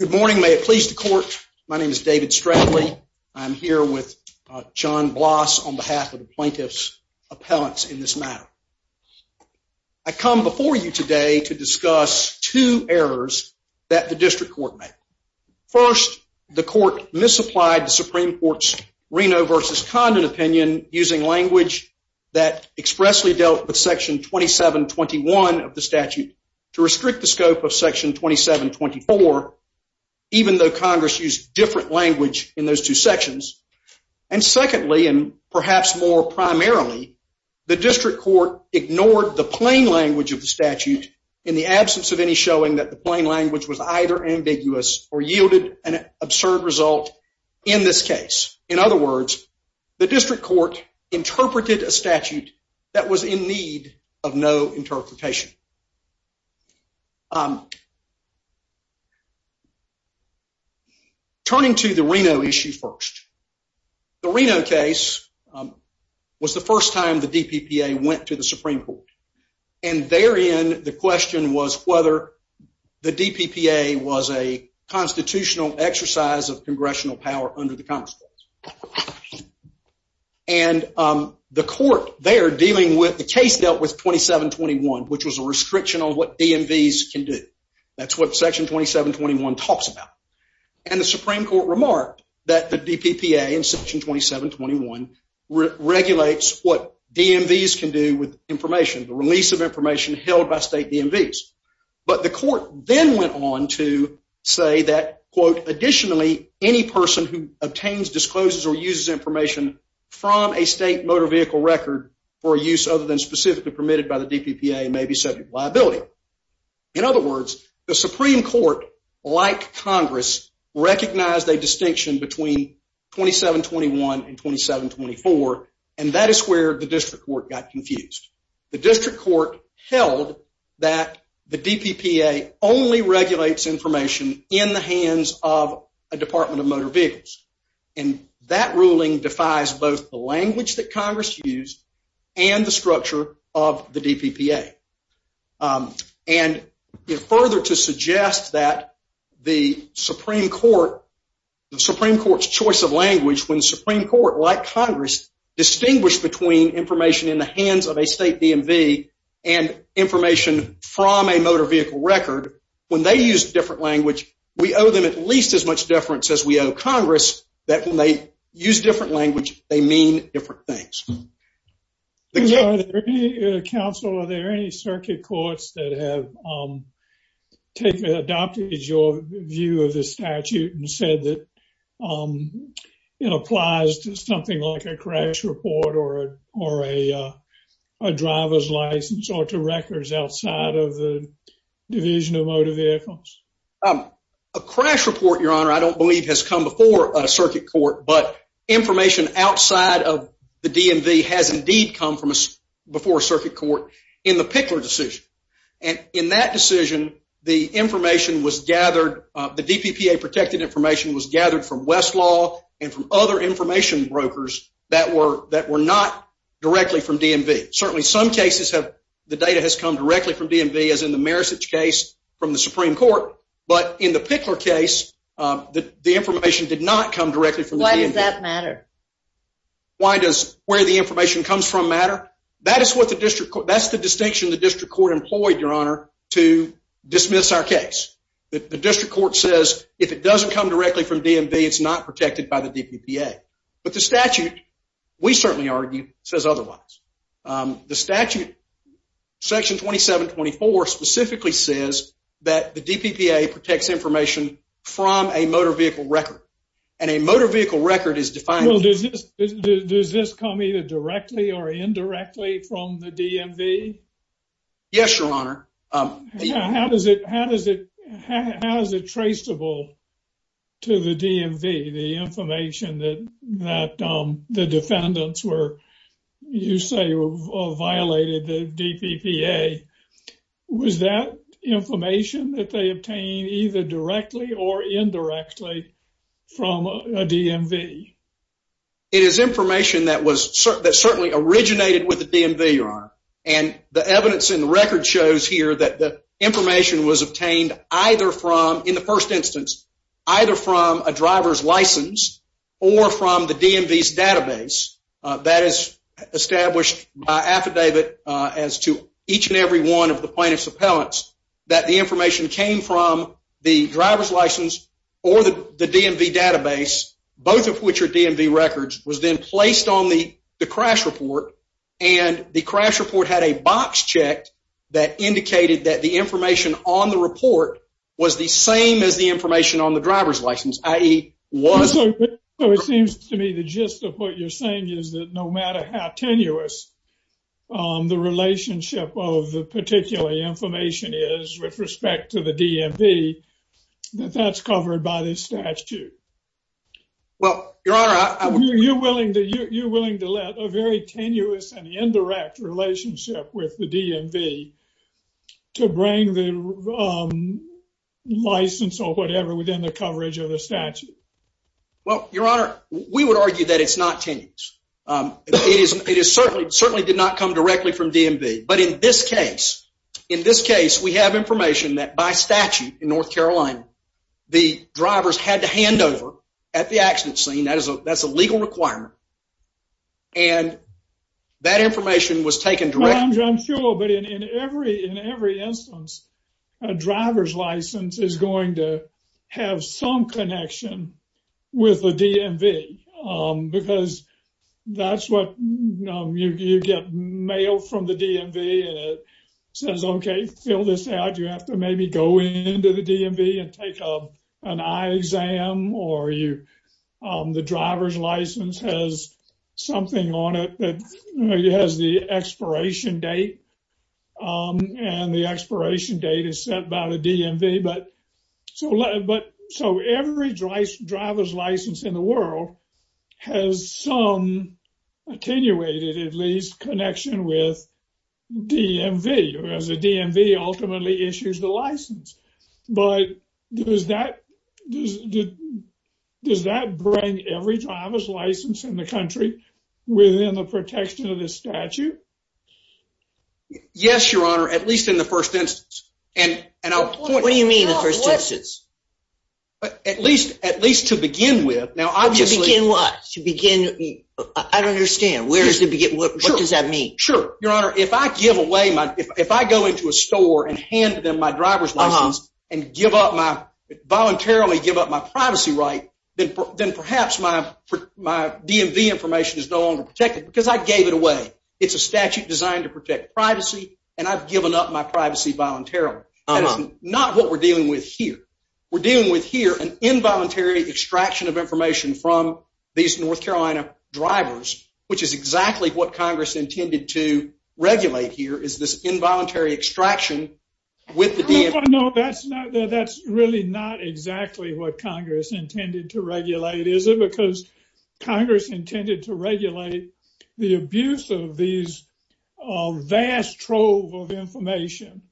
Good morning. May it please the court, my name is David Stradley. I'm here with John Bloss on behalf of the plaintiff's appellants in this matter. I come before you today to discuss two errors that the district court made. First, the court misapplied the Supreme Court's Reno v. Condon opinion using language that expressly dealt with Section 2721 of Section 2724, even though Congress used different language in those two sections. And secondly, and perhaps more primarily, the district court ignored the plain language of the statute in the absence of any showing that the plain language was either ambiguous or yielded an absurd result in this case. In other words, the district court interpreted a statute that was in need of no interpretation. Turning to the Reno issue first, the Reno case was the first time the DPPA went to the Supreme Court, and therein the question was whether the DPPA was a constitutional exercise of congressional power under the Congress. And the court there dealing with the case dealt with 2721, which was a restriction on what DMVs can do. That's what Section 2721 talks about. And the Supreme Court remarked that the DPPA in Section 2721 regulates what DMVs can do with information, the release of information held by state DMVs. But the court then went on to say that, quote, additionally, any person who obtains, discloses, or uses information from a state motor vehicle record for use other than specifically permitted by the DPPA may be subject to liability. In other words, the Supreme Court, like Congress, recognized a distinction between 2721 and 2724, and that is where the district court got confused. The district court held that the DPPA only regulates information in the state DMV, and that ruling defies both the language that Congress used and the structure of the DPPA. And further to suggest that the Supreme Court, the Supreme Court's choice of language, when the Supreme Court, like Congress, distinguished between information in the hands of a state DMV and information from a motor vehicle record, when they used different language, we owe them at least as much deference as we owe Congress that when they use different language, they mean different things. Are there any, counsel, are there any circuit courts that have adopted your view of the statute and said that it applies to something like a crash report or a driver's license or to records outside of the division of motor vehicles? A crash report, your honor, I don't believe has come before a circuit court, but information outside of the DMV has indeed come from before a circuit court in the Pickler decision. And in that decision, the information was gathered, the DPPA protected information was gathered from Westlaw and from other information brokers that were that were not directly from DMV. Certainly some cases have, the data has come directly from DMV as in the Marisich case from the Supreme Court. But in the Pickler case, the information did not come directly from the DMV. Why does that matter? Why does where the information comes from matter? That is what the district court, that's the distinction the district court employed, your honor, to dismiss our case. The district court says if it doesn't come directly from DMV, it's not protected by the DPPA. But the statute section 2724 specifically says that the DPPA protects information from a motor vehicle record and a motor vehicle record is defined. Well, does this does this come either directly or indirectly from the DMV? Yes, your honor. How does it how does it how is it traceable to the DMV, the information that that the defendants were, you say, violated the DPPA? Was that information that they obtained either directly or indirectly from a DMV? It is information that was certainly originated with the DMV, your honor. And the evidence in the record shows here that the information was obtained either from in the first instance, either from a driver's license or from the DMV's database that is established by affidavit as to each and every one of the plaintiff's appellants, that the information came from the driver's license or the DMV database, both of which are DMV records, was then placed on the crash report. And the crash report had a box checked that indicated that the information on the driver's license, i.e. was. So it seems to me the gist of what you're saying is that no matter how tenuous the relationship of the particular information is with respect to the DMV, that that's covered by this statute. Well, your honor, I would be willing to you're willing to let a very tenuous and indirect relationship with the DMV to bring the license or whatever within the coverage of the statute. Well, your honor, we would argue that it's not tenuous. It is certainly certainly did not come directly from DMV. But in this case, in this case, we have information that by statute in North Carolina, the drivers had to hand over at the accident scene. That is a that's a legal requirement. And that information was taken directly. Your honor, I'm sure. But in every in every instance, a driver's license is going to have some connection with the DMV because that's what you get mailed from the DMV. And it says, OK, fill this out. You have to maybe go into the DMV and take an eye exam or you the driver's license has something on it that has the expiration date and the expiration date is set by the DMV. But so but so every driver's license in the world has some attenuated, at least connection with DMV as a DMV ultimately issues the license. But does that does does that bring every driver's license in the country within the protection of the statute? Yes, your honor, at least in the first instance. And what do you mean the first instance? At least at least to begin with. Now, I just begin what to begin. I don't understand. Where's the get? What does that mean? Sure. Your honor, if I give away my if I go into a store and hand them my driver's license and give up my voluntarily give up my privacy, right, then perhaps my my DMV information is no longer protected because I gave it away. It's a statute designed to protect privacy. And I've given up my privacy voluntarily. Not what we're dealing with here. We're dealing with here an involuntary extraction of information from these North Carolina drivers, which is exactly what Congress intended to regulate here is this involuntary extraction with the DMV. No, that's not that's really not exactly what Congress intended to regulate, is it? Because Congress intended to regulate the abuse of these vast trove of information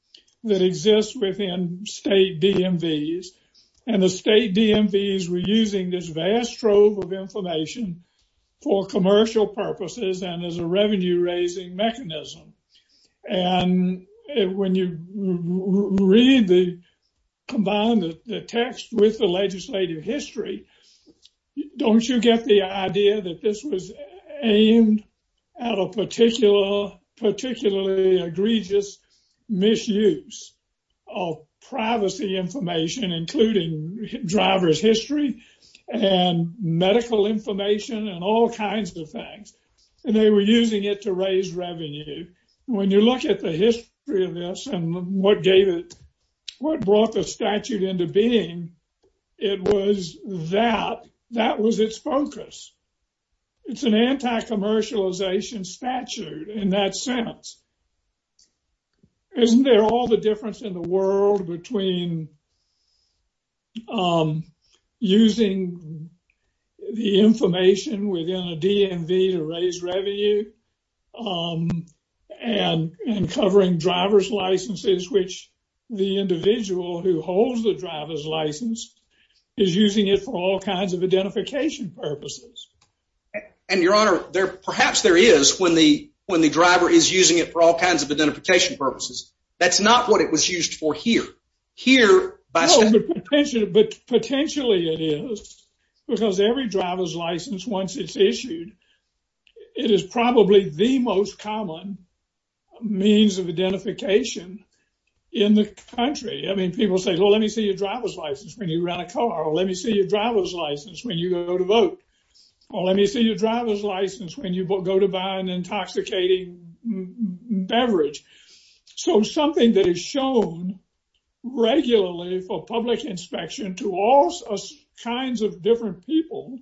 that exists within state DMVs. And the as a revenue raising mechanism. And when you read the combined the text with the legislative history, don't you get the idea that this was aimed at a particular particularly egregious misuse of privacy information, including driver's history, and medical information and all kinds of things. And they were using it to raise revenue. When you look at the history of this, and what gave it what brought the statute into being, it was that that was its focus. It's an anti commercialization statute in that sense. Isn't there all the difference in the world between using the information within a DMV to raise revenue and covering driver's licenses, which the individual who holds the driver's license is using it for all kinds of identification purposes. And Your Honor, there perhaps there is when the when the driver is using it for all kinds of identification purposes. That's not what it was used for here, here. But potentially it is, because every driver's license once it's issued, it is probably the most common means of identification in the country. I mean, people say, well, let me see your driver's license when you go to vote. Well, let me see your driver's license when you go to buy an intoxicating beverage. So something that is shown regularly for public inspection to all kinds of different people.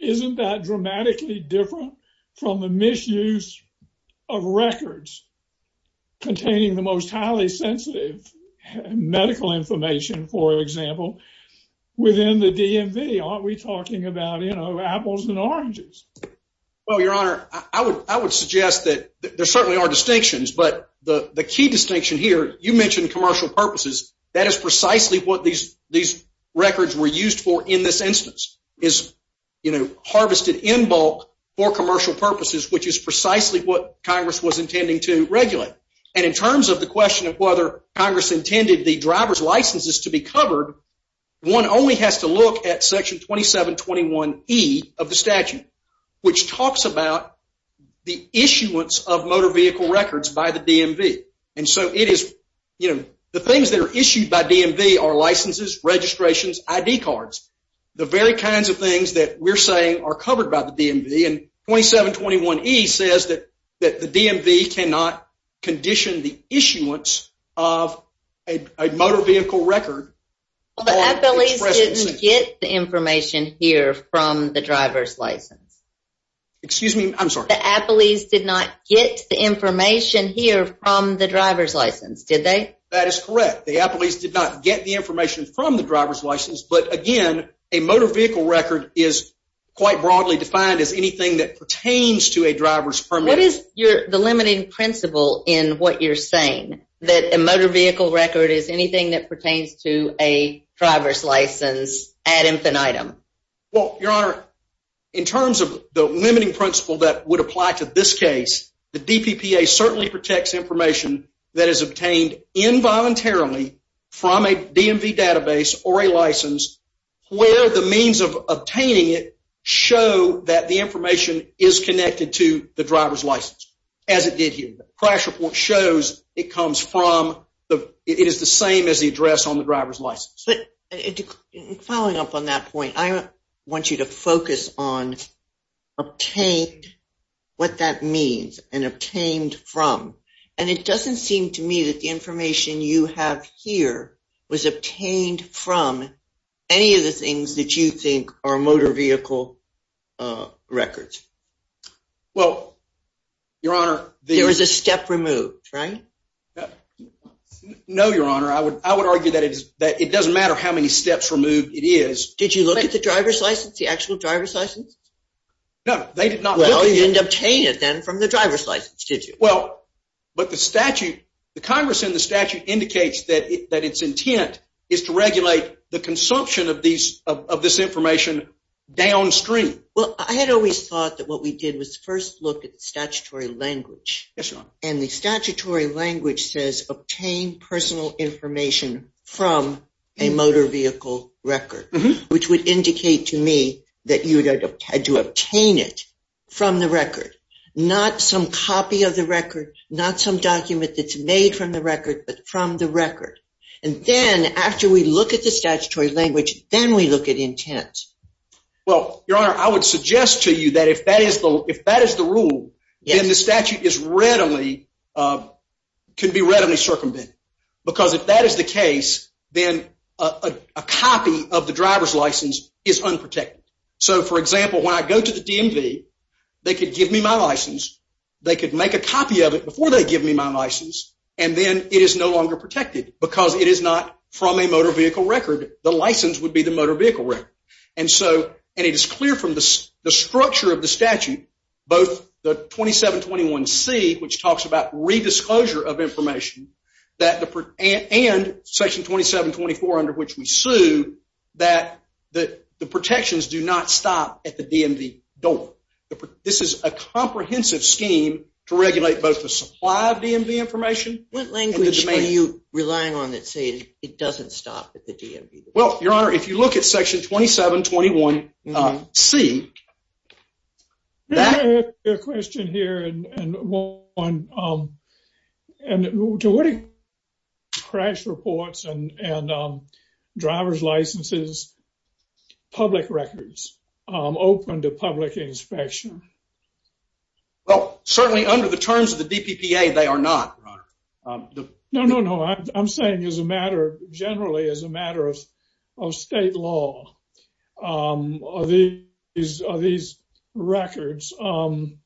Isn't that dramatically different from the misuse of records containing the most DMV? Are we talking about, you know, apples and oranges? Well, Your Honor, I would I would suggest that there certainly are distinctions. But the key distinction here, you mentioned commercial purposes. That is precisely what these these records were used for in this instance is, you know, harvested in bulk for commercial purposes, which is precisely what Congress was intending to regulate. And in terms of the question of whether Congress intended the driver's licenses to be covered, one only has to look at Section 2721E of the statute, which talks about the issuance of motor vehicle records by the DMV. And so it is, you know, the things that are issued by DMV are licenses, registrations, ID cards, the very kinds of things that we're saying are covered by the DMV. And 2721E says that that the DMV cannot condition the issuance of a motor vehicle record. Well, the appellees didn't get the information here from the driver's license. Excuse me, I'm sorry. The appellees did not get the information here from the driver's license, did they? That is correct. The appellees did not get the information from the driver's license. But again, a motor vehicle record is quite broadly defined as anything that pertains to a driver's permit. What is the limiting principle in what you're saying? That a motor vehicle record is anything that pertains to a driver's license ad infinitum? Well, Your Honor, in terms of the limiting principle that would apply to this case, the DPPA certainly protects information that is obtained involuntarily from a DMV database or a license, where the means of obtaining it show that the information is connected to the driver's license, as it did here. The crash report shows it is the same as the address on the driver's license. But following up on that point, I want you to focus on what that means, and obtained from. And it any of the things that you think are motor vehicle records? Well, Your Honor, there is a step removed, right? No, Your Honor, I would I would argue that it is that it doesn't matter how many steps removed it is. Did you look at the driver's license, the actual driver's license? No, they did not. Well, you didn't obtain it then from the driver's license, did you? Well, but the statute, the Congress in the statute indicates that that its intent is to regulate the consumption of these of this information downstream. Well, I had always thought that what we did was first look at the statutory language. And the statutory language says obtain personal information from a motor vehicle record, which would not some document that's made from the record, but from the record. And then after we look at the statutory language, then we look at intent. Well, Your Honor, I would suggest to you that if that is the if that is the rule, then the statute is readily can be readily circumvented. Because if that is the case, then a copy of the driver's license is unprotected. So, for example, when I go to the DMV, they could give me my license. They could make a copy of it before they give me my license. And then it is no longer protected because it is not from a motor vehicle record. The license would be the motor vehicle. And so it is clear from the structure of the statute, both the 2721 C, which talks about redisclosure of do not stop at the DMV door. This is a comprehensive scheme to regulate both the supply of DMV information. What language are you relying on that says it doesn't stop at the DMV? Well, Your Honor, if you look at Section 2721 C. I have a question here and one to what extent are crash reports and driver's licenses public records open to public inspection? Well, certainly under the terms of the DPPA, they are not. No, no, no. I'm saying as a matter generally, as a matter of state law, these records, be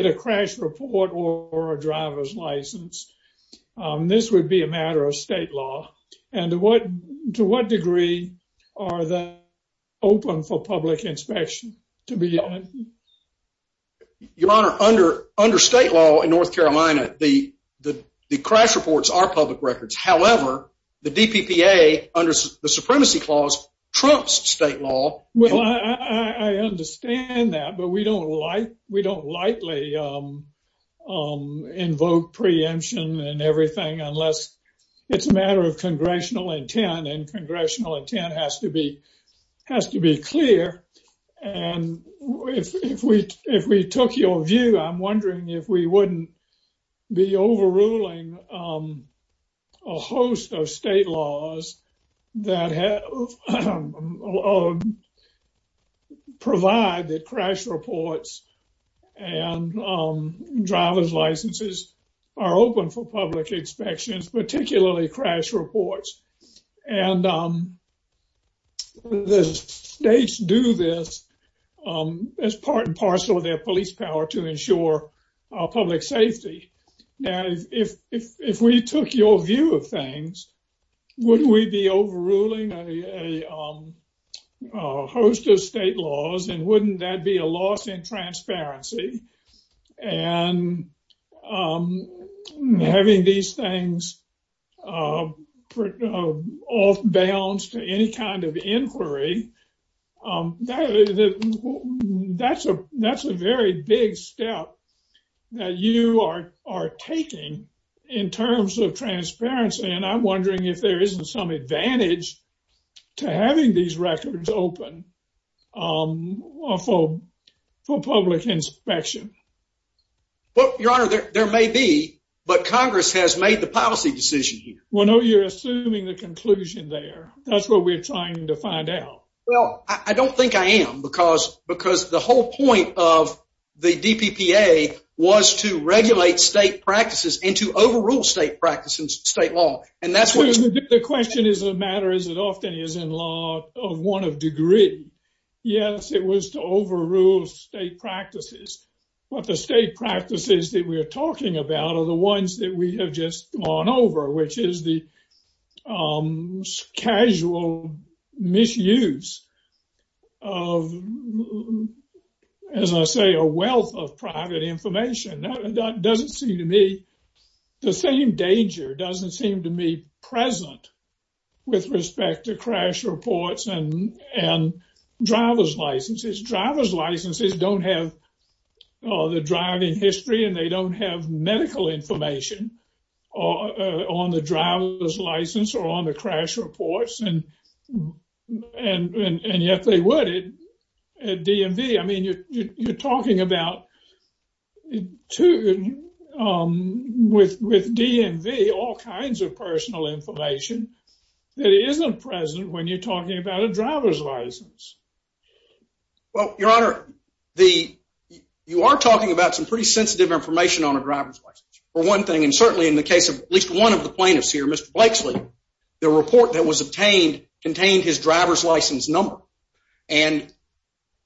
it a crash report or a driver's license, this would be a matter of state law. And to what degree are they open for public inspection to begin with? Your Honor, under state law in North Carolina, the crash reports are public records. However, the DPPA under the Supremacy Clause trumps state law. Well, I understand that, but we don't like we don't likely invoke preemption and everything unless it's a matter of congressional intent and congressional intent has to be has to be clear. And if we if we took your view, I'm wondering if we wouldn't be overruling a host of state laws that provide that crash reports and driver's licenses are open for public inspections, particularly crash reports. And the states do this as part and parcel of their police power to ensure public safety. Now, if we took your view of things, wouldn't we be overruling a host of state laws and wouldn't that be a loss in transparency? And having these things off balance to any kind of inquiry, that's a that's a very big step that you are taking in terms of transparency. And I'm wondering if there isn't some advantage to having these records open for public inspection. Well, Your Honor, there may be, but Congress has made the policy decision. Well, no, you're assuming the conclusion there. That's what we're trying to find out. Well, I don't think I am because because the whole point of the DPPA was to regulate state practices and to overrule state practices, state law. And that's what the question is. The matter is, it often is in law of one of degree. Yes, it was to overrule state practices. But the state practices that we are talking about are the ones that we have just gone over, which is the casual misuse of, as I say, a wealth of private information. That doesn't seem to me, the same danger doesn't seem to me present with respect to crash reports and driver's licenses. Driver's licenses don't have the driving history and they don't have medical information on the driver's license or on the crash reports. And and yet they would at DMV. I mean, you're talking about two with with DMV, all kinds of personal information that isn't present when you're talking about a driver's license. Well, your honor, the you are talking about some pretty sensitive information on a driver's license, for one thing, and certainly in the case of at least one of the plaintiffs here, Mr. Blakeslee, the report that was obtained contained his driver's license number, and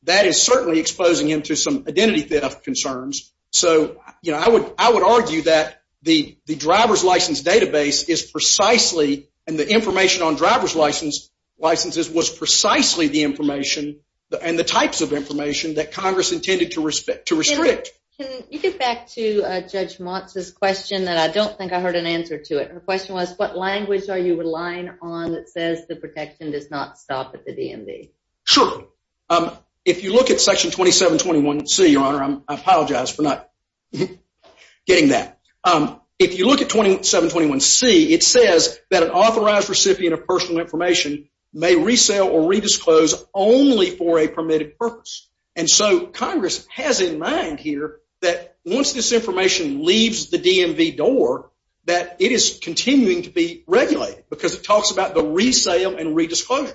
that is certainly exposing him to some identity theft concerns. So, you know, I would I would argue that the the driver's license database is precisely and the information on driver's license licenses was precisely the information and the types of information that Congress intended to respect to restrict. Can you get back to Judge Montz's question that I don't think I heard an answer to it? Her question was, what language are you relying on that says the protection does not stop at the DMV? Sure. If you look at Section 2721C, your honor, I apologize for not getting that. If you look at 2721C, it says that an authorized recipient of personal information may resale or redisclose only for a permitted purpose. And so Congress has in mind here that once this information leaves the DMV door, that it is continuing to be regulated because it talks about the resale and redisclosure.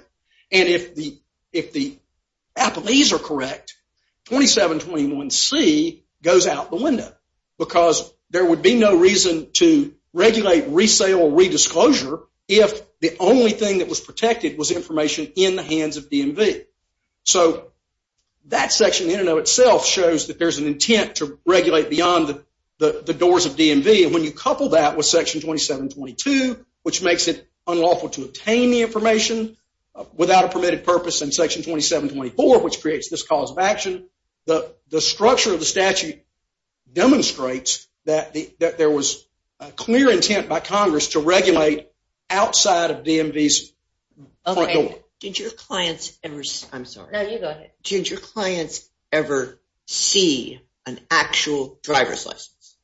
And if the if the appellees are correct, 2721C goes out the window because there would be no reason to regulate resale or redisclosure if the only thing that was protected was information in the hands of DMV. So that section in and of itself shows that there's an intent to regulate beyond the doors of DMV. And when you couple that with Section 2722, which makes it unlawful to obtain the information without a permitted purpose in Section 2724, which creates this cause of action, the structure of the statute demonstrates that there was a clear intent by Congress to regulate outside of DMV's front door. Did your clients ever, I'm sorry, did your clients ever see an actual driver's license?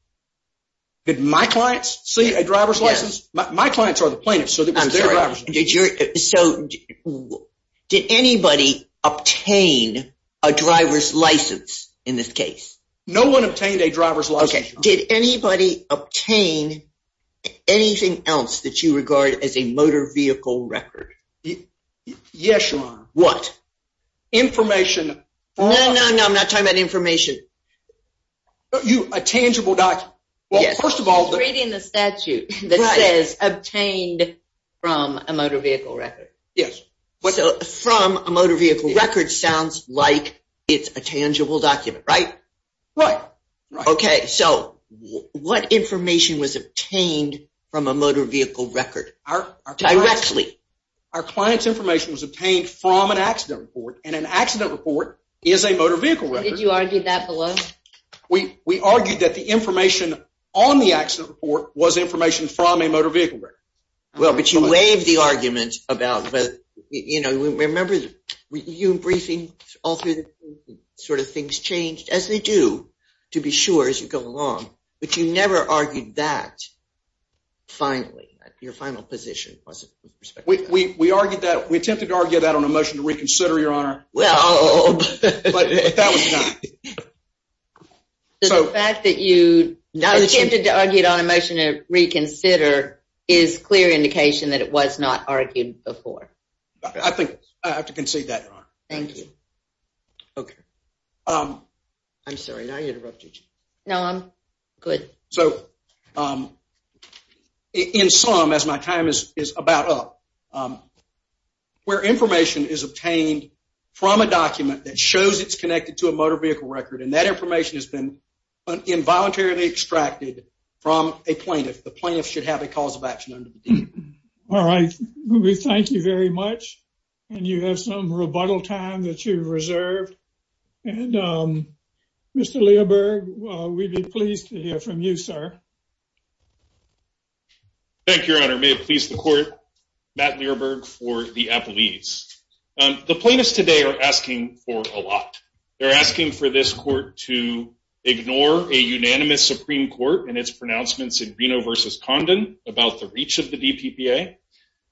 Did my clients see a driver's license? My clients are the plaintiffs. So did anybody obtain a driver's license in this case? No one obtained a driver's license. Did anybody obtain anything else that you regard as a motor vehicle record? Yes, Your Honor. What? Information. No, no, no, I'm not talking about information. A tangible document. Yes. First of all, reading the statute that says obtained from a motor vehicle record. Yes. So from a motor vehicle record sounds like it's a tangible document, right? Right. Okay. So what information was obtained from a motor vehicle record directly? Our client's information was obtained from an accident report and an accident report is a motor vehicle record. Did you argue that below? We argued that the information on the accident report was information from a motor vehicle record. Well, but you waived the argument about, you know, we remember you briefing all through the sort of things changed as they do to be sure as you go along. But you never argued that finally, your final position. We argued that, we attempted to argue that on a motion to reconsider, Your Honor. Well, but that was not. So the fact that you attempted to argue it on a motion to reconsider is clear indication that it was not argued before. I think I have to concede that. Thank you. Okay. I'm sorry, did I interrupt you, Chief? No, I'm good. So, in sum, as my time is about up, where information is obtained from a document that shows it's connected to a motor vehicle record and that information has been involuntarily extracted from a plaintiff, the plaintiff should have a cause of action. All right. We thank you very much. And you have some rebuttal time that you reserved. And Mr. Learberg, we'd be pleased to hear from you, sir. Thank you, Your Honor. May it please the court, Matt Learberg for the Appellees. The plaintiffs today are asking for a lot. They're asking for this court to ignore a unanimous Supreme Court in its pronouncements in Reno versus Condon about the reach of the DPPA.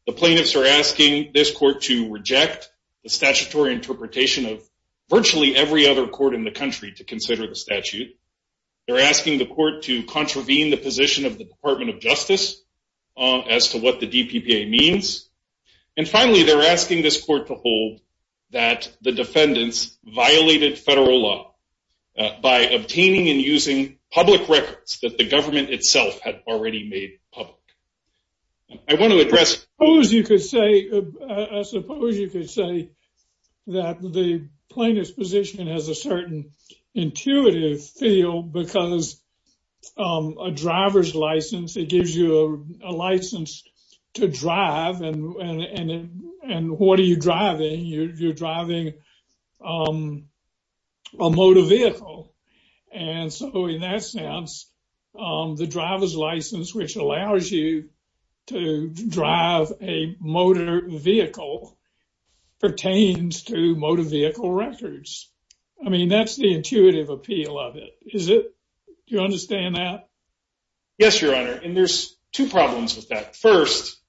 The plaintiffs are asking this court to reject the statutory interpretation of virtually every other court in the country to consider the statute. They're asking the court to contravene the position of the Department of Justice as to what the DPPA means. And finally, they're asking this court to hold that the defendants violated federal law by obtaining and using public records that the government itself had already made public. I want to address. Suppose you could say, I suppose you could say that the plaintiff's position has a certain intuitive feel because a driver's license, it gives you a license to drive. And what are you driving? You're driving a motor vehicle. And so in that sense, the driver's license, which allows you to drive a motor vehicle, pertains to motor vehicle records. I mean, that's the intuitive appeal of it. Is it? Do you understand that? Yes, Your Honor. And there's two problems with that. First,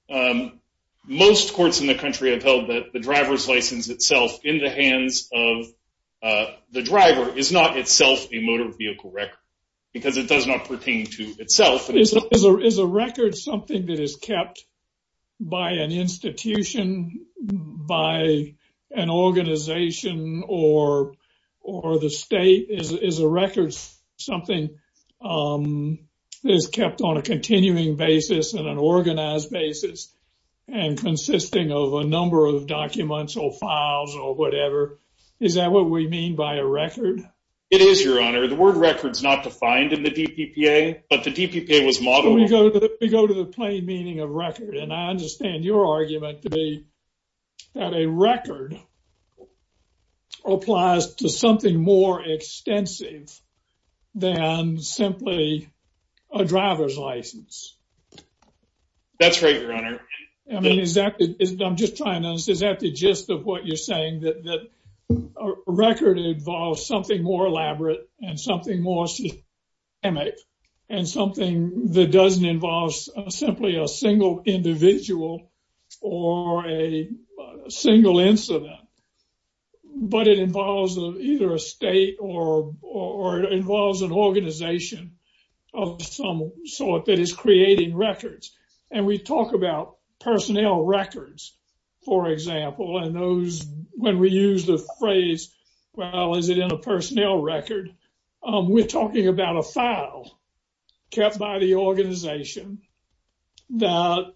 most courts in the country have held that the driver's license itself in the hands of the driver is not itself a motor vehicle record because it does not pertain to itself. Is a record something that is kept by an institution, by an organization or the state? Is a record something that is kept on a continuing basis and an organized basis and consisting of a number of documents or files or whatever? Is that what we mean by a record? It is, Your Honor. The word record is not defined in the DPPA, but the DPPA was modeled. We go to the plain meaning of record. And I understand your argument to be that a record applies to something more extensive than simply a driver's license. I mean, is that, I'm just trying to understand, is that the gist of what you're saying, that a record involves something more elaborate and something more systemic and something that doesn't involve simply a single individual or a single incident, but it involves either a state or it involves an organization of some sort that is creating records. And we talk about personnel records, for example, and those when we use the phrase, well, is it in a personnel record? We're talking about a file kept by the organization that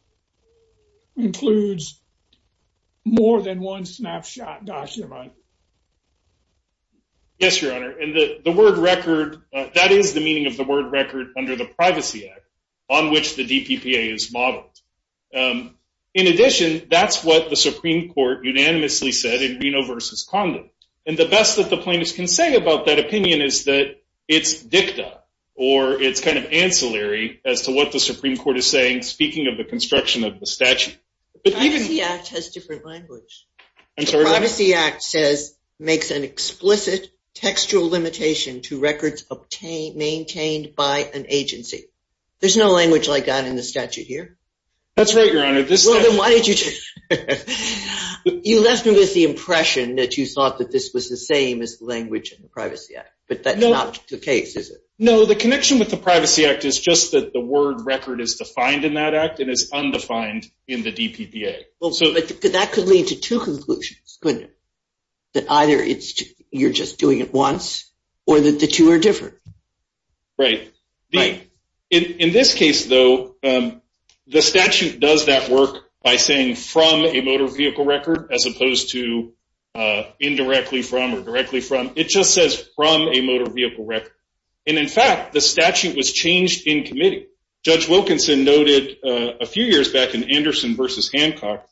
includes more than one snapshot document. Yes, Your Honor. And the word record, that is the meaning of the word record under the Privacy Act on which the DPPA is modeled. In addition, that's what the Supreme Court unanimously said in Reno v. Condon. And the best that the plaintiffs can say about that opinion is that it's dicta or it's kind of ancillary as to what the Supreme Court is saying, speaking of the construction of the statute. The Privacy Act has different language. The Privacy Act says, makes an explicit textual limitation to records obtained, maintained by an agency. There's no language like that in the statute here. That's right, Your Honor. Well, then why did you change it? You left me with the impression that you thought that this was the same as the language in the Privacy Act, but that's not the case, is it? No, the connection with the Privacy Act is just that the word record is defined in that act and is undefined in the DPPA. Well, but that could lead to two conclusions, couldn't it? That either you're just doing it once or that the two are different. Right. In this case, though, the statute does that work by saying from a motor vehicle record as opposed to indirectly from or directly from. It just says from a motor vehicle record. And in fact, the statute was changed in committee. Judge Wilkinson noted a few years back in Anderson versus Hancock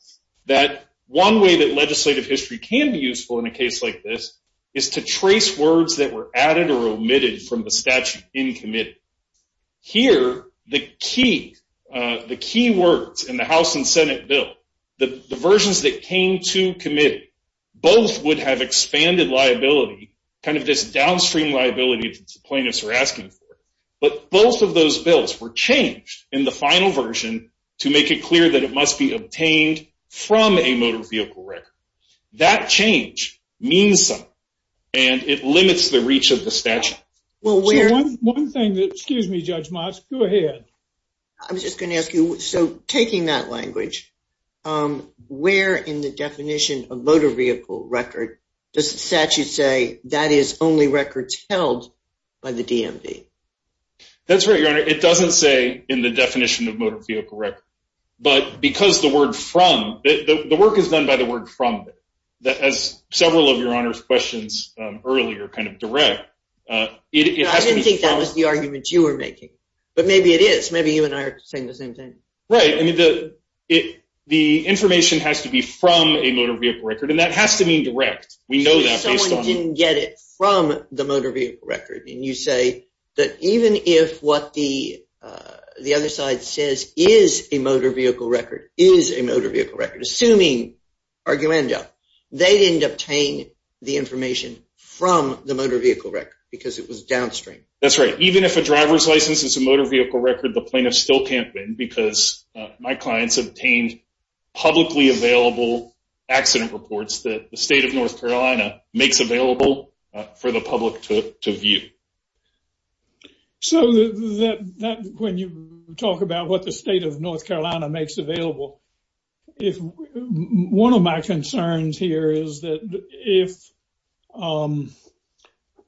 that one way that legislative history can be useful in a case like this is to trace words that were added or omitted from the statute in committee. Here, the key words in the House and Senate bill, the versions that came to committee, both would have expanded liability, kind of this downstream liability that the plaintiffs are asking for. But both of those bills were changed in the final version to make it clear that it must be obtained from a motor vehicle record. That change means something and it limits the reach of the statute. Well, one thing that, excuse me, Judge Moss, go ahead. I was just going to ask you, so taking that language, where in the definition of motor vehicle record does the statute say that is only records held by the DMV? That's right, Your Honor. It doesn't say in the definition of motor vehicle record. But because the word from, the work is done by the word from, as several of Your Honor's questions earlier kind of direct, it has to be from. I didn't think that was the argument you were making, but maybe it is. Maybe you and I are saying the same thing. Right. I mean, the information has to be from a motor vehicle record, and that has to mean direct. We know that based on. I didn't get it from the motor vehicle record, and you say that even if what the other side says is a motor vehicle record, is a motor vehicle record, assuming arguenda, they didn't obtain the information from the motor vehicle record because it was downstream. That's right. Even if a driver's license is a motor vehicle record, the plaintiff still can't win because my clients obtained publicly available accident reports that the state of North Carolina makes available for the public to view. So that when you talk about what the state of North Carolina makes available, if one of my concerns here is that if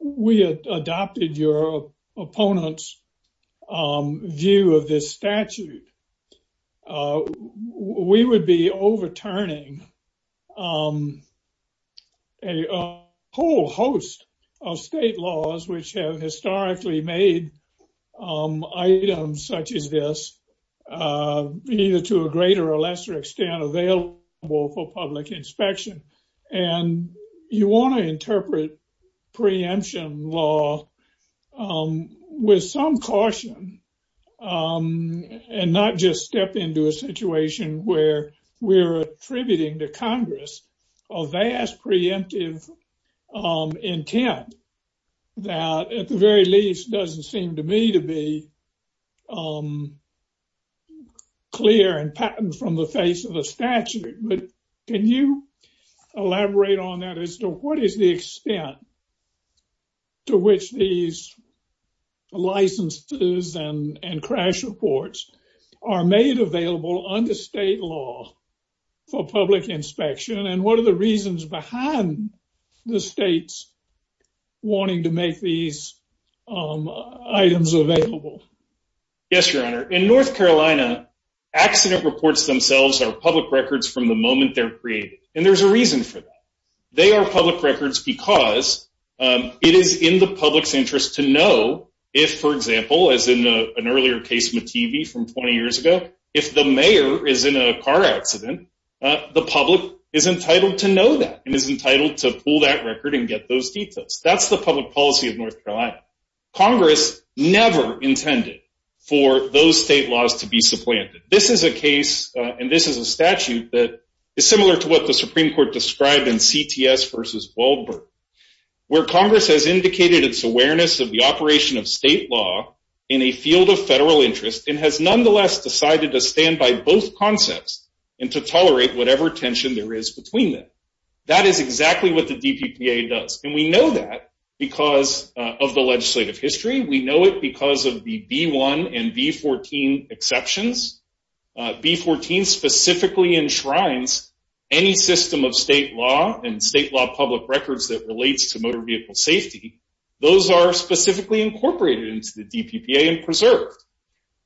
we adopted your opponent's view of this statute, we would be overturning a whole host of state laws which have historically made items such as this either to a greater or lesser extent available for public inspection. And you want to interpret preemption law with some caution and not just step into a situation where we're attributing to Congress a vast preemptive intent that at the very least doesn't seem to me to be clear and patent from the face of the statute. But can you elaborate on that as to what is the extent to which these licenses and crash reports are made available under state law for public inspection? And what are the reasons behind the state's wanting to make these items available? Yes, Your Honor. In North Carolina, accident reports themselves are public records from the moment they're created. And there's a reason for that. They are public records because it is in the public's interest to know if, for example, as in an earlier case with TV from 20 years ago, if the mayor is in a car accident, the public is entitled to know that and is entitled to pull that record and get those details. That's the public policy of North Carolina. Congress never intended for those state laws to be supplanted. This is a case and this is a statute that is similar to what the Supreme Court described in CTS versus Waldberg, where Congress has indicated its awareness of the operation of state law in a field of federal interest and has nonetheless decided to stand by both concepts and to tolerate whatever tension there is between them. That is exactly what the DPPA does. And we know that because of the legislative history. We know it because of the B-1 and B-14 exceptions. B-14 specifically enshrines any system of state law and state law public records that relates to motor vehicle safety. Those are specifically incorporated into the DPPA and preserved.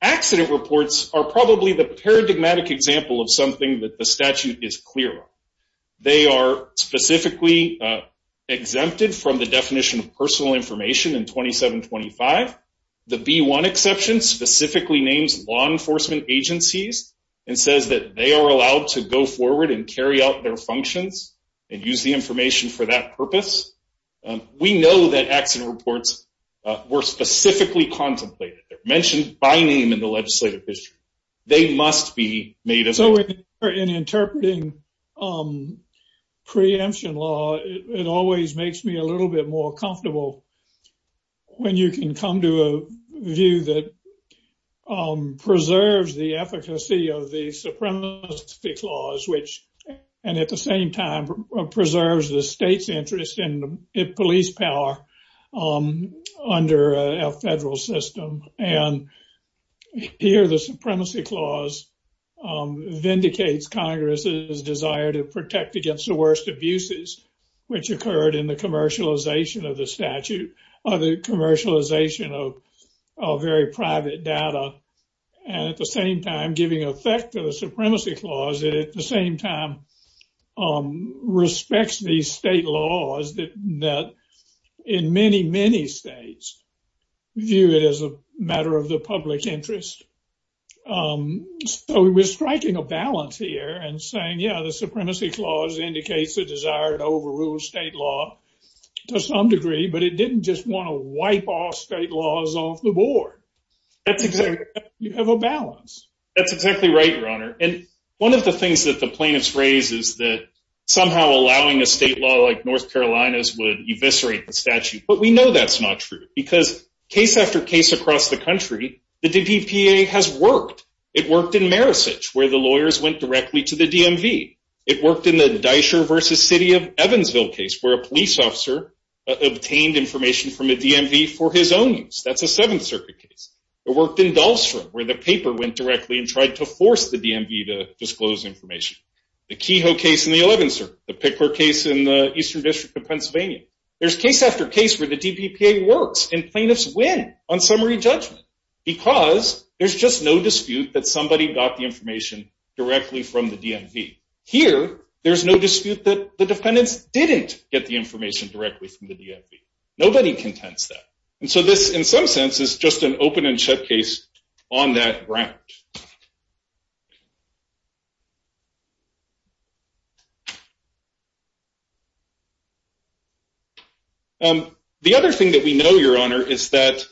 Accident reports are probably the paradigmatic example of something that the statute is clear on. They are specifically exempted from the definition of personal information in 2725. The B-1 exception specifically names law enforcement agencies and says that they are allowed to go forward and carry out their functions and use the information for that purpose. We know that accident reports were specifically contemplated. They're mentioned by name in the legislative history. They must be made available. So in interpreting preemption law, it always makes me a little bit more comfortable when you can come to a view that preserves the efficacy of the Supremacy Clause, which, and at the same time, preserves the state's interest in police power under a federal system. And here, the Supremacy Clause vindicates Congress's desire to protect against the worst abuses, which occurred in the commercialization of the statute or the commercialization of very private data. And at the same time, giving effect to the Supremacy Clause, and at the same time, respects the state laws that in many, many states view it as a matter of the public interest. So we're striking a balance here and saying, yeah, the Supremacy Clause indicates the desire to overrule state law to some degree, but it didn't just want to wipe off state laws off the board. You have a balance. That's exactly right, Your Honor. And one of the things that the plaintiffs raise is that somehow allowing a state law like North Carolina's would eviscerate the statute. But we know that's not true because case after case across the country, the DPPA has worked. It worked in Marisich where the lawyers went directly to the DMV. It worked in the Dysher v. City of Evansville case where a police officer obtained information from a DMV for his own use. That's a Seventh Circuit case. It worked in Dahlstrom where the paper went directly and tried to force the DMV to disclose information. The Kehoe case in the 11th Circuit, the Pickler case in the Eastern District of Pennsylvania. There's case after case where the DPPA works and plaintiffs win on summary judgment because there's just no dispute that somebody got the information directly from the DMV. Here, there's no dispute that the defendants didn't get the information directly from the DMV. Nobody contends that. And so this, in some sense, is just an open and shut case on that ground. The other thing that we know, Your Honor, is that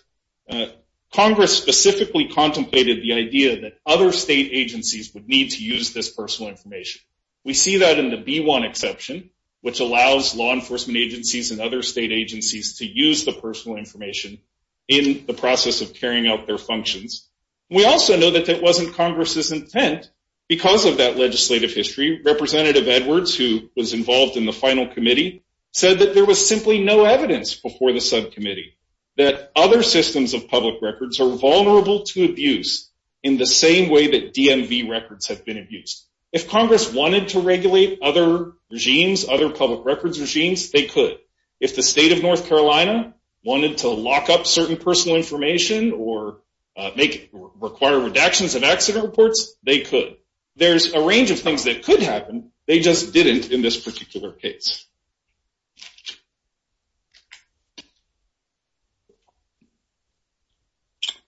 Congress specifically contemplated the idea that other state agencies would need to use this personal information. We see that in the B-1 exception, which allows law enforcement agencies and other state agencies to use the personal information in the process of carrying out their functions. We also know that that wasn't Congress's intent. Because of that legislative history, Representative Edwards, who was involved in the final committee, said that there was simply no evidence before the subcommittee that other systems of public records are vulnerable to abuse in the same way that DMV records have been abused. If Congress wanted to regulate other regimes, other public records regimes, they could. If the state of North Carolina wanted to lock up certain personal information or require redactions of accident reports, they could. There's a range of things that could happen. They just didn't in this particular case.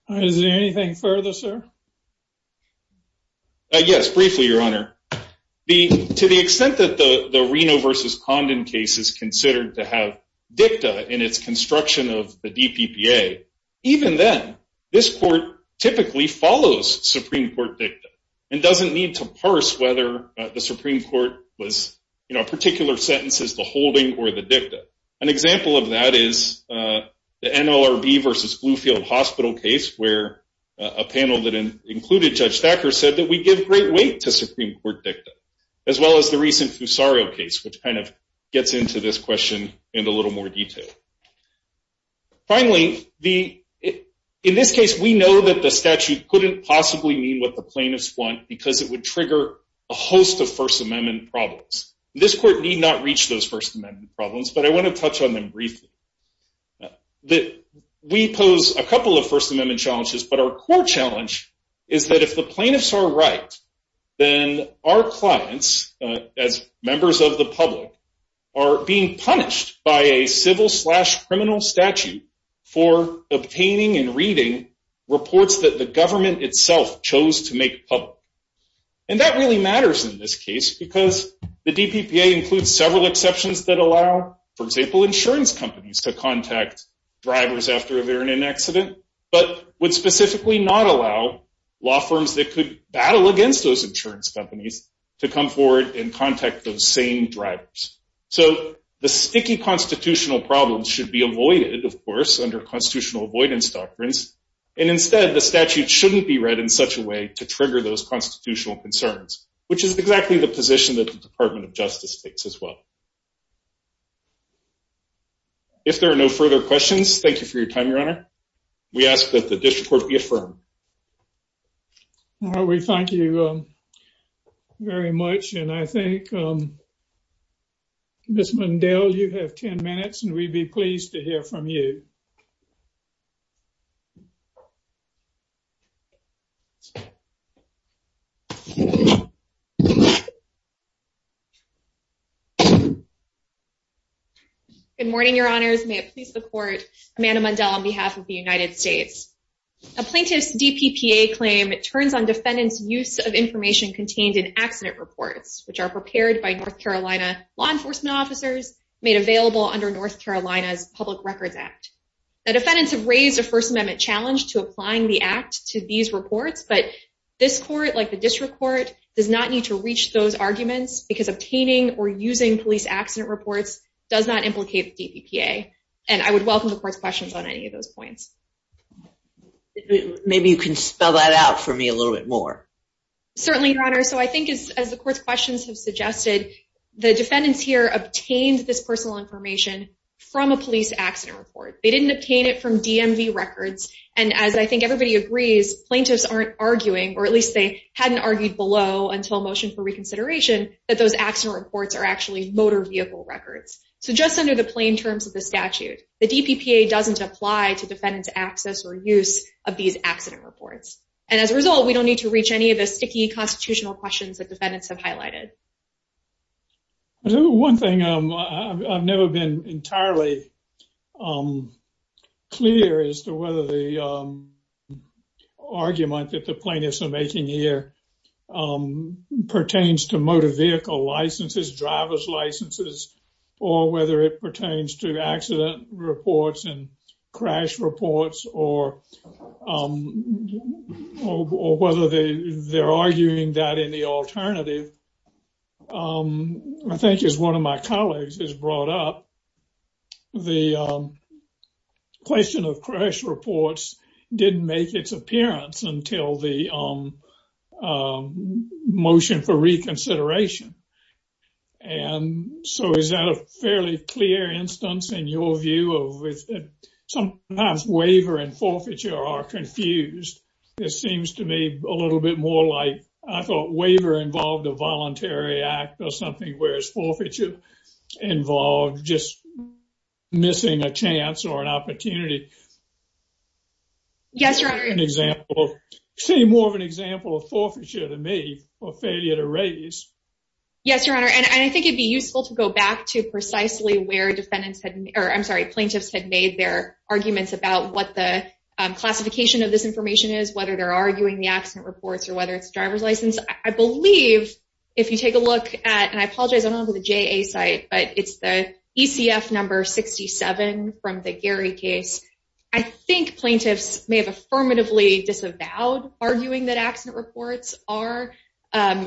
Is there anything further, sir? Yes, briefly, Your Honor. To the extent that the Reno v. Condon case is considered to have dicta in its construction of the DPPA, even then, this court typically follows Supreme Court dicta and doesn't need to parse whether the Supreme Court was, in a particular sentence, the holding or the dicta. An example of that is the NLRB v. Bluefield Hospital case, where a panel that included Judge Thacker said that we give great weight to Supreme Court dicta, as well as the recent Fusario case, which kind of gets into this question in a little more detail. Finally, in this case, we know that the statute couldn't possibly mean what the plaintiffs want because it would trigger a host of First Amendment problems. This court need not reach those First Amendment problems, but I want to touch on them briefly. We pose a couple of First Amendment challenges, but our core challenge is that if the plaintiffs are right, then our clients, as members of the public, are being punished by a civil-slash-criminal statute for obtaining and reading reports that the government itself chose to make public. And that really matters in this case because the DPPA includes several exceptions that allow, for example, insurance companies to contact drivers after an accident, but would specifically not allow law firms that could battle against those insurance companies to come forward and contact those same drivers. So, the sticky constitutional problems should be avoided, of course, under constitutional avoidance doctrines, and instead, the statute shouldn't be read in such a way to trigger those constitutional concerns, which is exactly the position that the Department of Justice takes as well. If there are no further questions, thank you for your time, Your Honor. We ask that the district court be affirmed. We thank you very much, and I think, Ms. Mundell, you have 10 minutes, and we'd be pleased to hear from you. Good morning, Your Honors. May it please the court, Amanda Mundell on behalf of the United States. A plaintiff's DPPA claim turns on defendants' use of information contained in accident reports, which are prepared by North Carolina law enforcement officers, made available under North Carolina's Public Records Act. The defendants have raised a First Amendment challenge to applying the act to these reports, but this court, like the district court, does not need to reach those arguments because obtaining or using police accident reports does not implicate the DPPA, and I would welcome the court's questions on any of those points. Maybe you can spell that out for me a little bit more. Certainly, Your Honor. So I think, as the court's questions have suggested, the defendants here obtained this personal information from a police accident report. They didn't obtain it from DMV records, and as I think everybody agrees, plaintiffs aren't arguing, or at least they hadn't argued below until motion for reconsideration, that those accident reports are actually motor vehicle records. So just under the plain terms of the statute, the DPPA doesn't apply to defendants' access or use of these accident reports. And as a result, we don't need to reach any of the sticky constitutional questions that defendants have highlighted. One thing, I've never been entirely clear as to whether the argument that the plaintiffs are making here pertains to motor vehicle licenses, driver's licenses, or whether it pertains to accident reports and crash reports, or whether they're arguing that in the alternative. I think, as one of my colleagues has brought up, the question of crash reports didn't make its appearance until the motion for reconsideration. And so is that a fairly clear instance, in your view, of sometimes waiver and forfeiture are confused? It seems to me a little bit more like I thought waiver involved a voluntary act or something, whereas forfeiture involved just missing a chance or an opportunity. Yes, Your Honor. Say more of an example of forfeiture to me, or failure to raise. Yes, Your Honor. And I think it'd be useful to go back to precisely where plaintiffs had made their arguments about what the classification of this information is, whether they're arguing the accident reports or whether it's driver's license. I believe, if you take a look at, and I apologize, I don't have the JA site, but it's the ECF number 67 from the Gary case. I think plaintiffs may have affirmatively disavowed arguing that accident reports are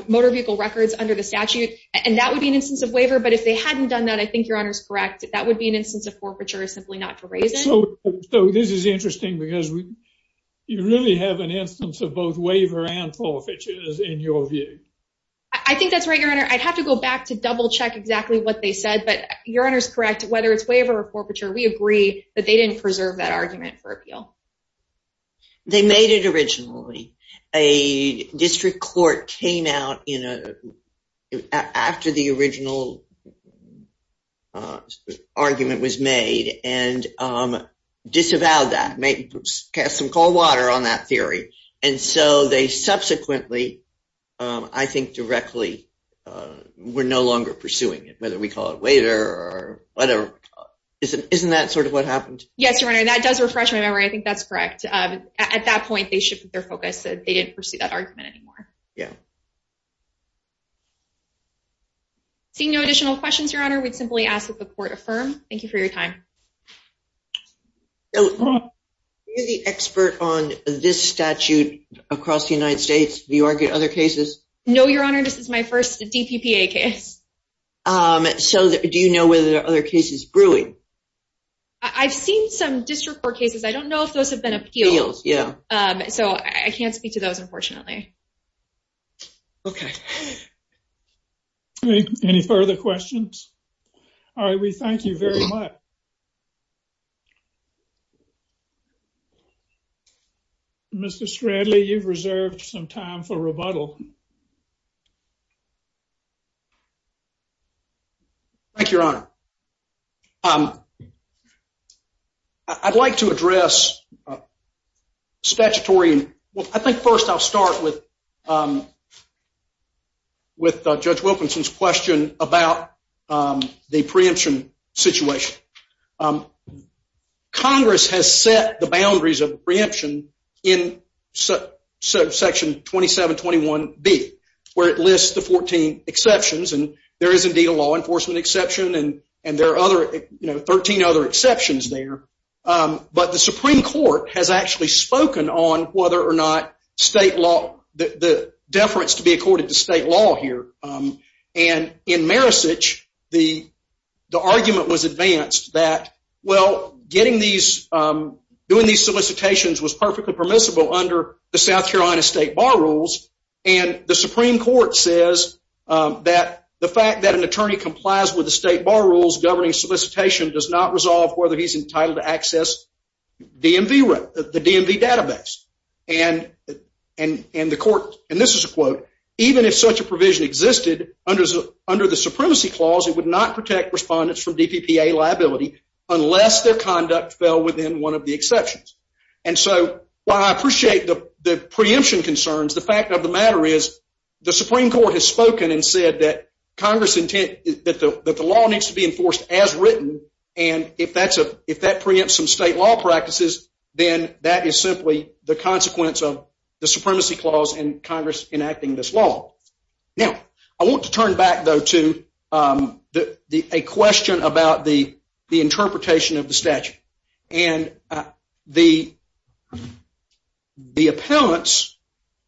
motor vehicle records under the statute, and that would be an instance of waiver. But if they hadn't done that, I think Your Honor's correct. That would be an instance of forfeiture, simply not to raise it. So this is interesting because you really have an instance of both waiver and forfeiture in your view. I think that's right, Your Honor. I'd have to go back to double check exactly what they said, but Your Honor's correct. Whether it's waiver or forfeiture, we agree that they didn't preserve that argument for appeal. They made it originally. A district court came out after the original argument was made and disavowed that, cast some cold water on that theory. And so they subsequently, I think directly, were no longer pursuing it, whether we call it waiver or whatever. Isn't that sort of what happened? Yes, Your Honor. That does refresh my memory. I think that's correct. At that point, they shifted their focus. They didn't pursue that argument anymore. Yeah. Seeing no additional questions, Your Honor, we'd simply ask that the court affirm. Thank you for your time. You're the expert on this statute across the United States. Do you argue other cases? No, Your Honor. This is my first DPPA case. So do you know whether there are other cases brewing? I've seen some district court cases. I don't know if those have been appealed. Appealed, yeah. So I can't speak to those, unfortunately. Okay. Any further questions? All right, we thank you very much. Mr. Stradley, you've reserved some time for rebuttal. Thank you, Your Honor. I'd like to address statutory. Well, I think first I'll start with Judge Wilkinson's question about the preemption situation. Congress has set the boundaries of preemption in Section 2721B, where it lists the 14 exceptions. And there is indeed a law enforcement exception, and there are 13 other exceptions there. But the Supreme Court has actually spoken on whether or not the deference to be accorded to state law here. And in Maricich, the argument was advanced that, well, doing these solicitations was perfectly permissible under the South Carolina State Bar Rules. And the Supreme Court says that the fact that an attorney complies with the State Bar Rules governing solicitation does not resolve whether he's entitled to access the DMV database. And the court, and this is a quote, even if such a provision existed under the Supremacy Clause, it would not protect respondents from DPPA liability unless their conduct fell within one of the exceptions. And so while I appreciate the preemption concerns, the fact of the matter is the Supreme Court has spoken and said that the law needs to be enforced as written. And if that preempts some state law practices, then that is simply the consequence of the Supremacy Clause and Congress enacting this law. Now, I want to turn back, though, to a question about the interpretation of the statute. And the appellants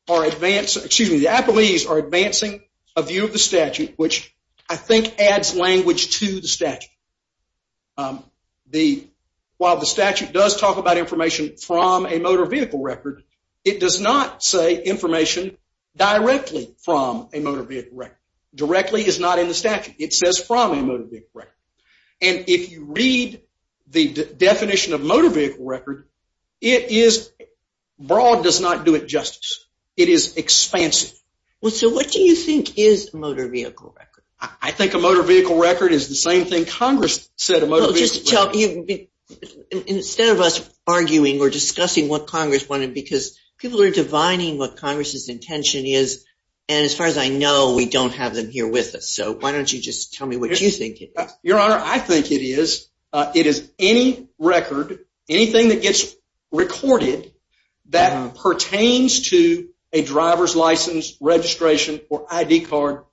are advancing, excuse me, the appellees are advancing a view of the statute which I think adds language to the statute. While the statute does talk about information from a motor vehicle record, it does not say information directly from a motor vehicle record. Directly is not in the statute. It says from a motor vehicle record. And if you read the definition of motor vehicle record, it is, broad does not do it justice. It is expansive. Well, so what do you think is a motor vehicle record? I think a motor vehicle record is the same thing Congress said a motor vehicle record was. Well, just tell, instead of us arguing or discussing what Congress wanted, because people are divining what Congress's intention is. And as far as I know, we don't have them here with us. So why don't you just tell me what you think it is? Your Honor, I think it is, it is any record, anything that gets recorded that pertains to a driver's license registration or ID card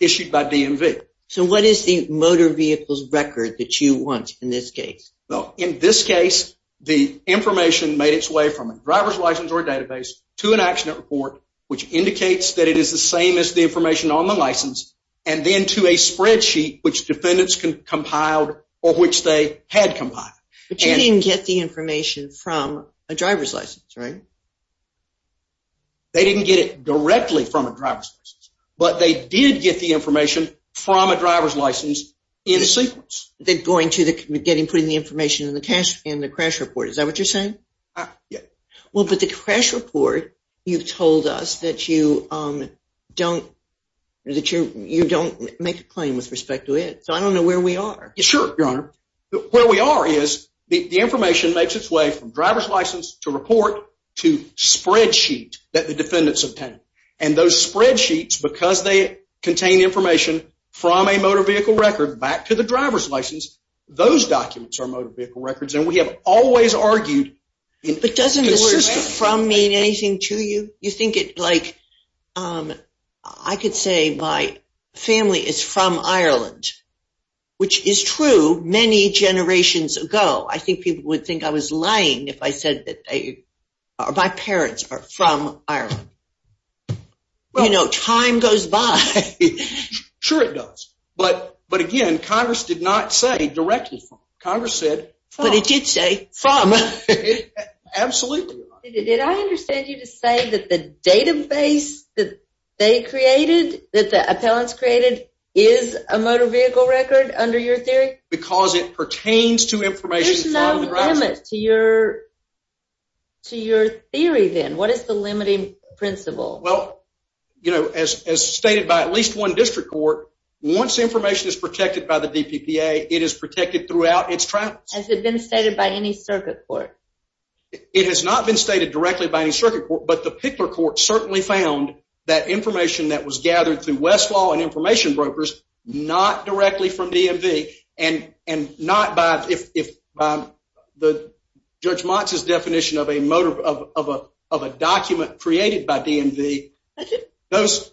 issued by DMV. So what is the motor vehicle's record that you want in this case? Well, in this case, the information made its way from a driver's license or database to an accident report, which indicates that it is the same as the information on the license, and then to a spreadsheet which defendants compiled or which they had compiled. But you didn't get the information from a driver's license, right? They didn't get it directly from a driver's license. But they did get the information from a driver's license in sequence. Then going to the, getting, putting the information in the crash report, is that what you're saying? Yeah. Well, but the crash report, you've told us that you don't, that you don't make a claim with respect to it. So I don't know where we are. Sure, Your Honor. Where we are is the information makes its way from driver's license to report to spreadsheet that the defendants obtained. And those spreadsheets, because they contain information from a motor vehicle record back to the driver's license, those documents are motor vehicle records. And we have always argued. But doesn't the system from mean anything to you? You think it, like, I could say my family is from Ireland, which is true many generations ago. I think people would think I was lying if I said that my parents are from Ireland. You know, time goes by. Sure it does. But again, Congress did not say directly from. Congress said from. But it did say from. Absolutely, Your Honor. Did I understand you to say that the database that they created, that the appellants created, is a motor vehicle record under your theory? Because it pertains to information from the driver's license. There's no limit to your theory then. What is the limiting principle? Well, you know, as stated by at least one district court, once information is protected by the DPPA, it is protected throughout its travels. Has it been stated by any circuit court? It has not been stated directly by any circuit court. But the Pickler court certainly found that information that was gathered through Westlaw and information brokers, not directly from DMV, and not by the Judge Motz's definition of a document created by DMV. Those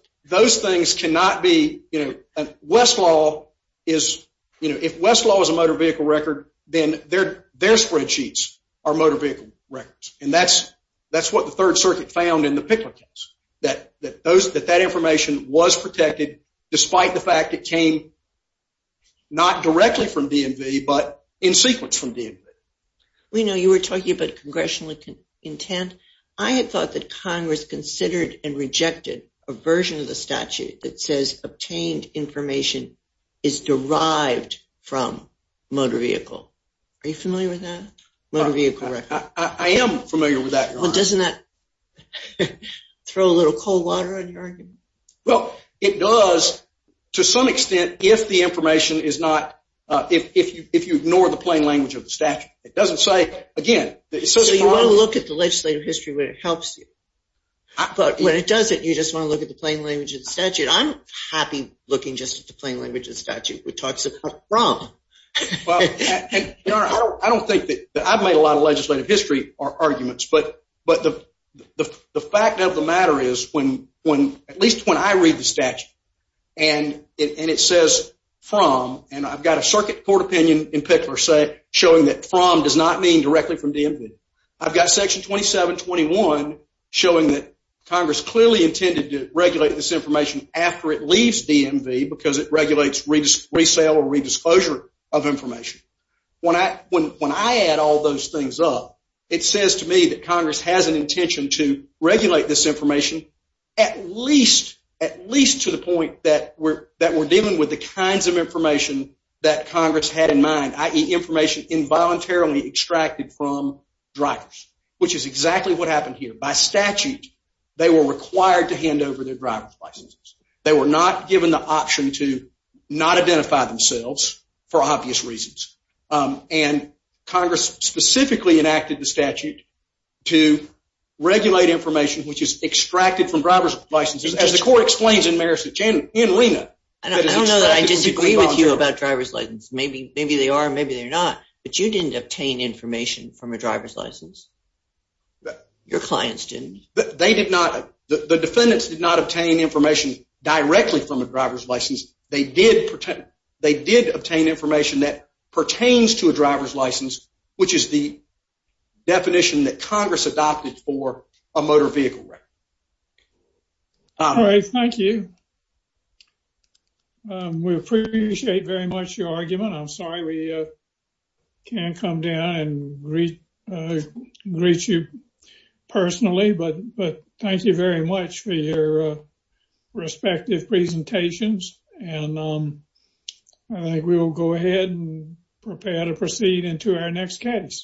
things cannot be, you know, Westlaw is, you know, if Westlaw is a motor vehicle record, then their spreadsheets are motor vehicle records. And that's what the Third Circuit found in the Pickler case. That that information was protected despite the fact it came not directly from DMV, but in sequence from DMV. Reno, you were talking about congressional intent. I had thought that Congress considered and rejected a version of the statute that says obtained information is derived from motor vehicle. Are you familiar with that? Motor vehicle record. I am familiar with that, Your Honor. Well, doesn't that throw a little cold water on your argument? Well, it does to some extent if the information is not, if you ignore the plain language of the statute. It doesn't say, again, that it says from. So you want to look at the legislative history when it helps you. But when it doesn't, you just want to look at the plain language of the statute. I'm happy looking just at the plain language of the statute, which talks about from. Your Honor, I don't think that I've made a lot of legislative history arguments. But the fact of the matter is, at least when I read the statute, and it says from, and I've got a Circuit Court opinion in Pickler showing that from does not mean directly from DMV. I've got Section 2721 showing that Congress clearly intended to regulate this information after it leaves DMV because it regulates resale or redisclosure of information. When I add all those things up, it says to me that Congress has an intention to regulate this information at least to the point that we're dealing with the kinds of information that Congress had in mind, i.e. information involuntarily extracted from drivers, which is exactly what happened here. By statute, they were required to hand over their driver's licenses. They were not given the option to not identify themselves for obvious reasons. And Congress specifically enacted the statute to regulate information which is extracted from driver's licenses, as the Court explains in Marist and Reno. I don't know that I disagree with you about driver's licenses. Maybe they are, maybe they're not. But you didn't obtain information from a driver's license. Your clients didn't. The defendants did not obtain information directly from a driver's license. They did obtain information that pertains to a driver's license, which is the definition that Congress adopted for a motor vehicle record. All right, thank you. We appreciate very much your argument. I'm sorry we can't come down and greet you personally. But thank you very much for your respective presentations. And I think we will go ahead and prepare to proceed into our next case.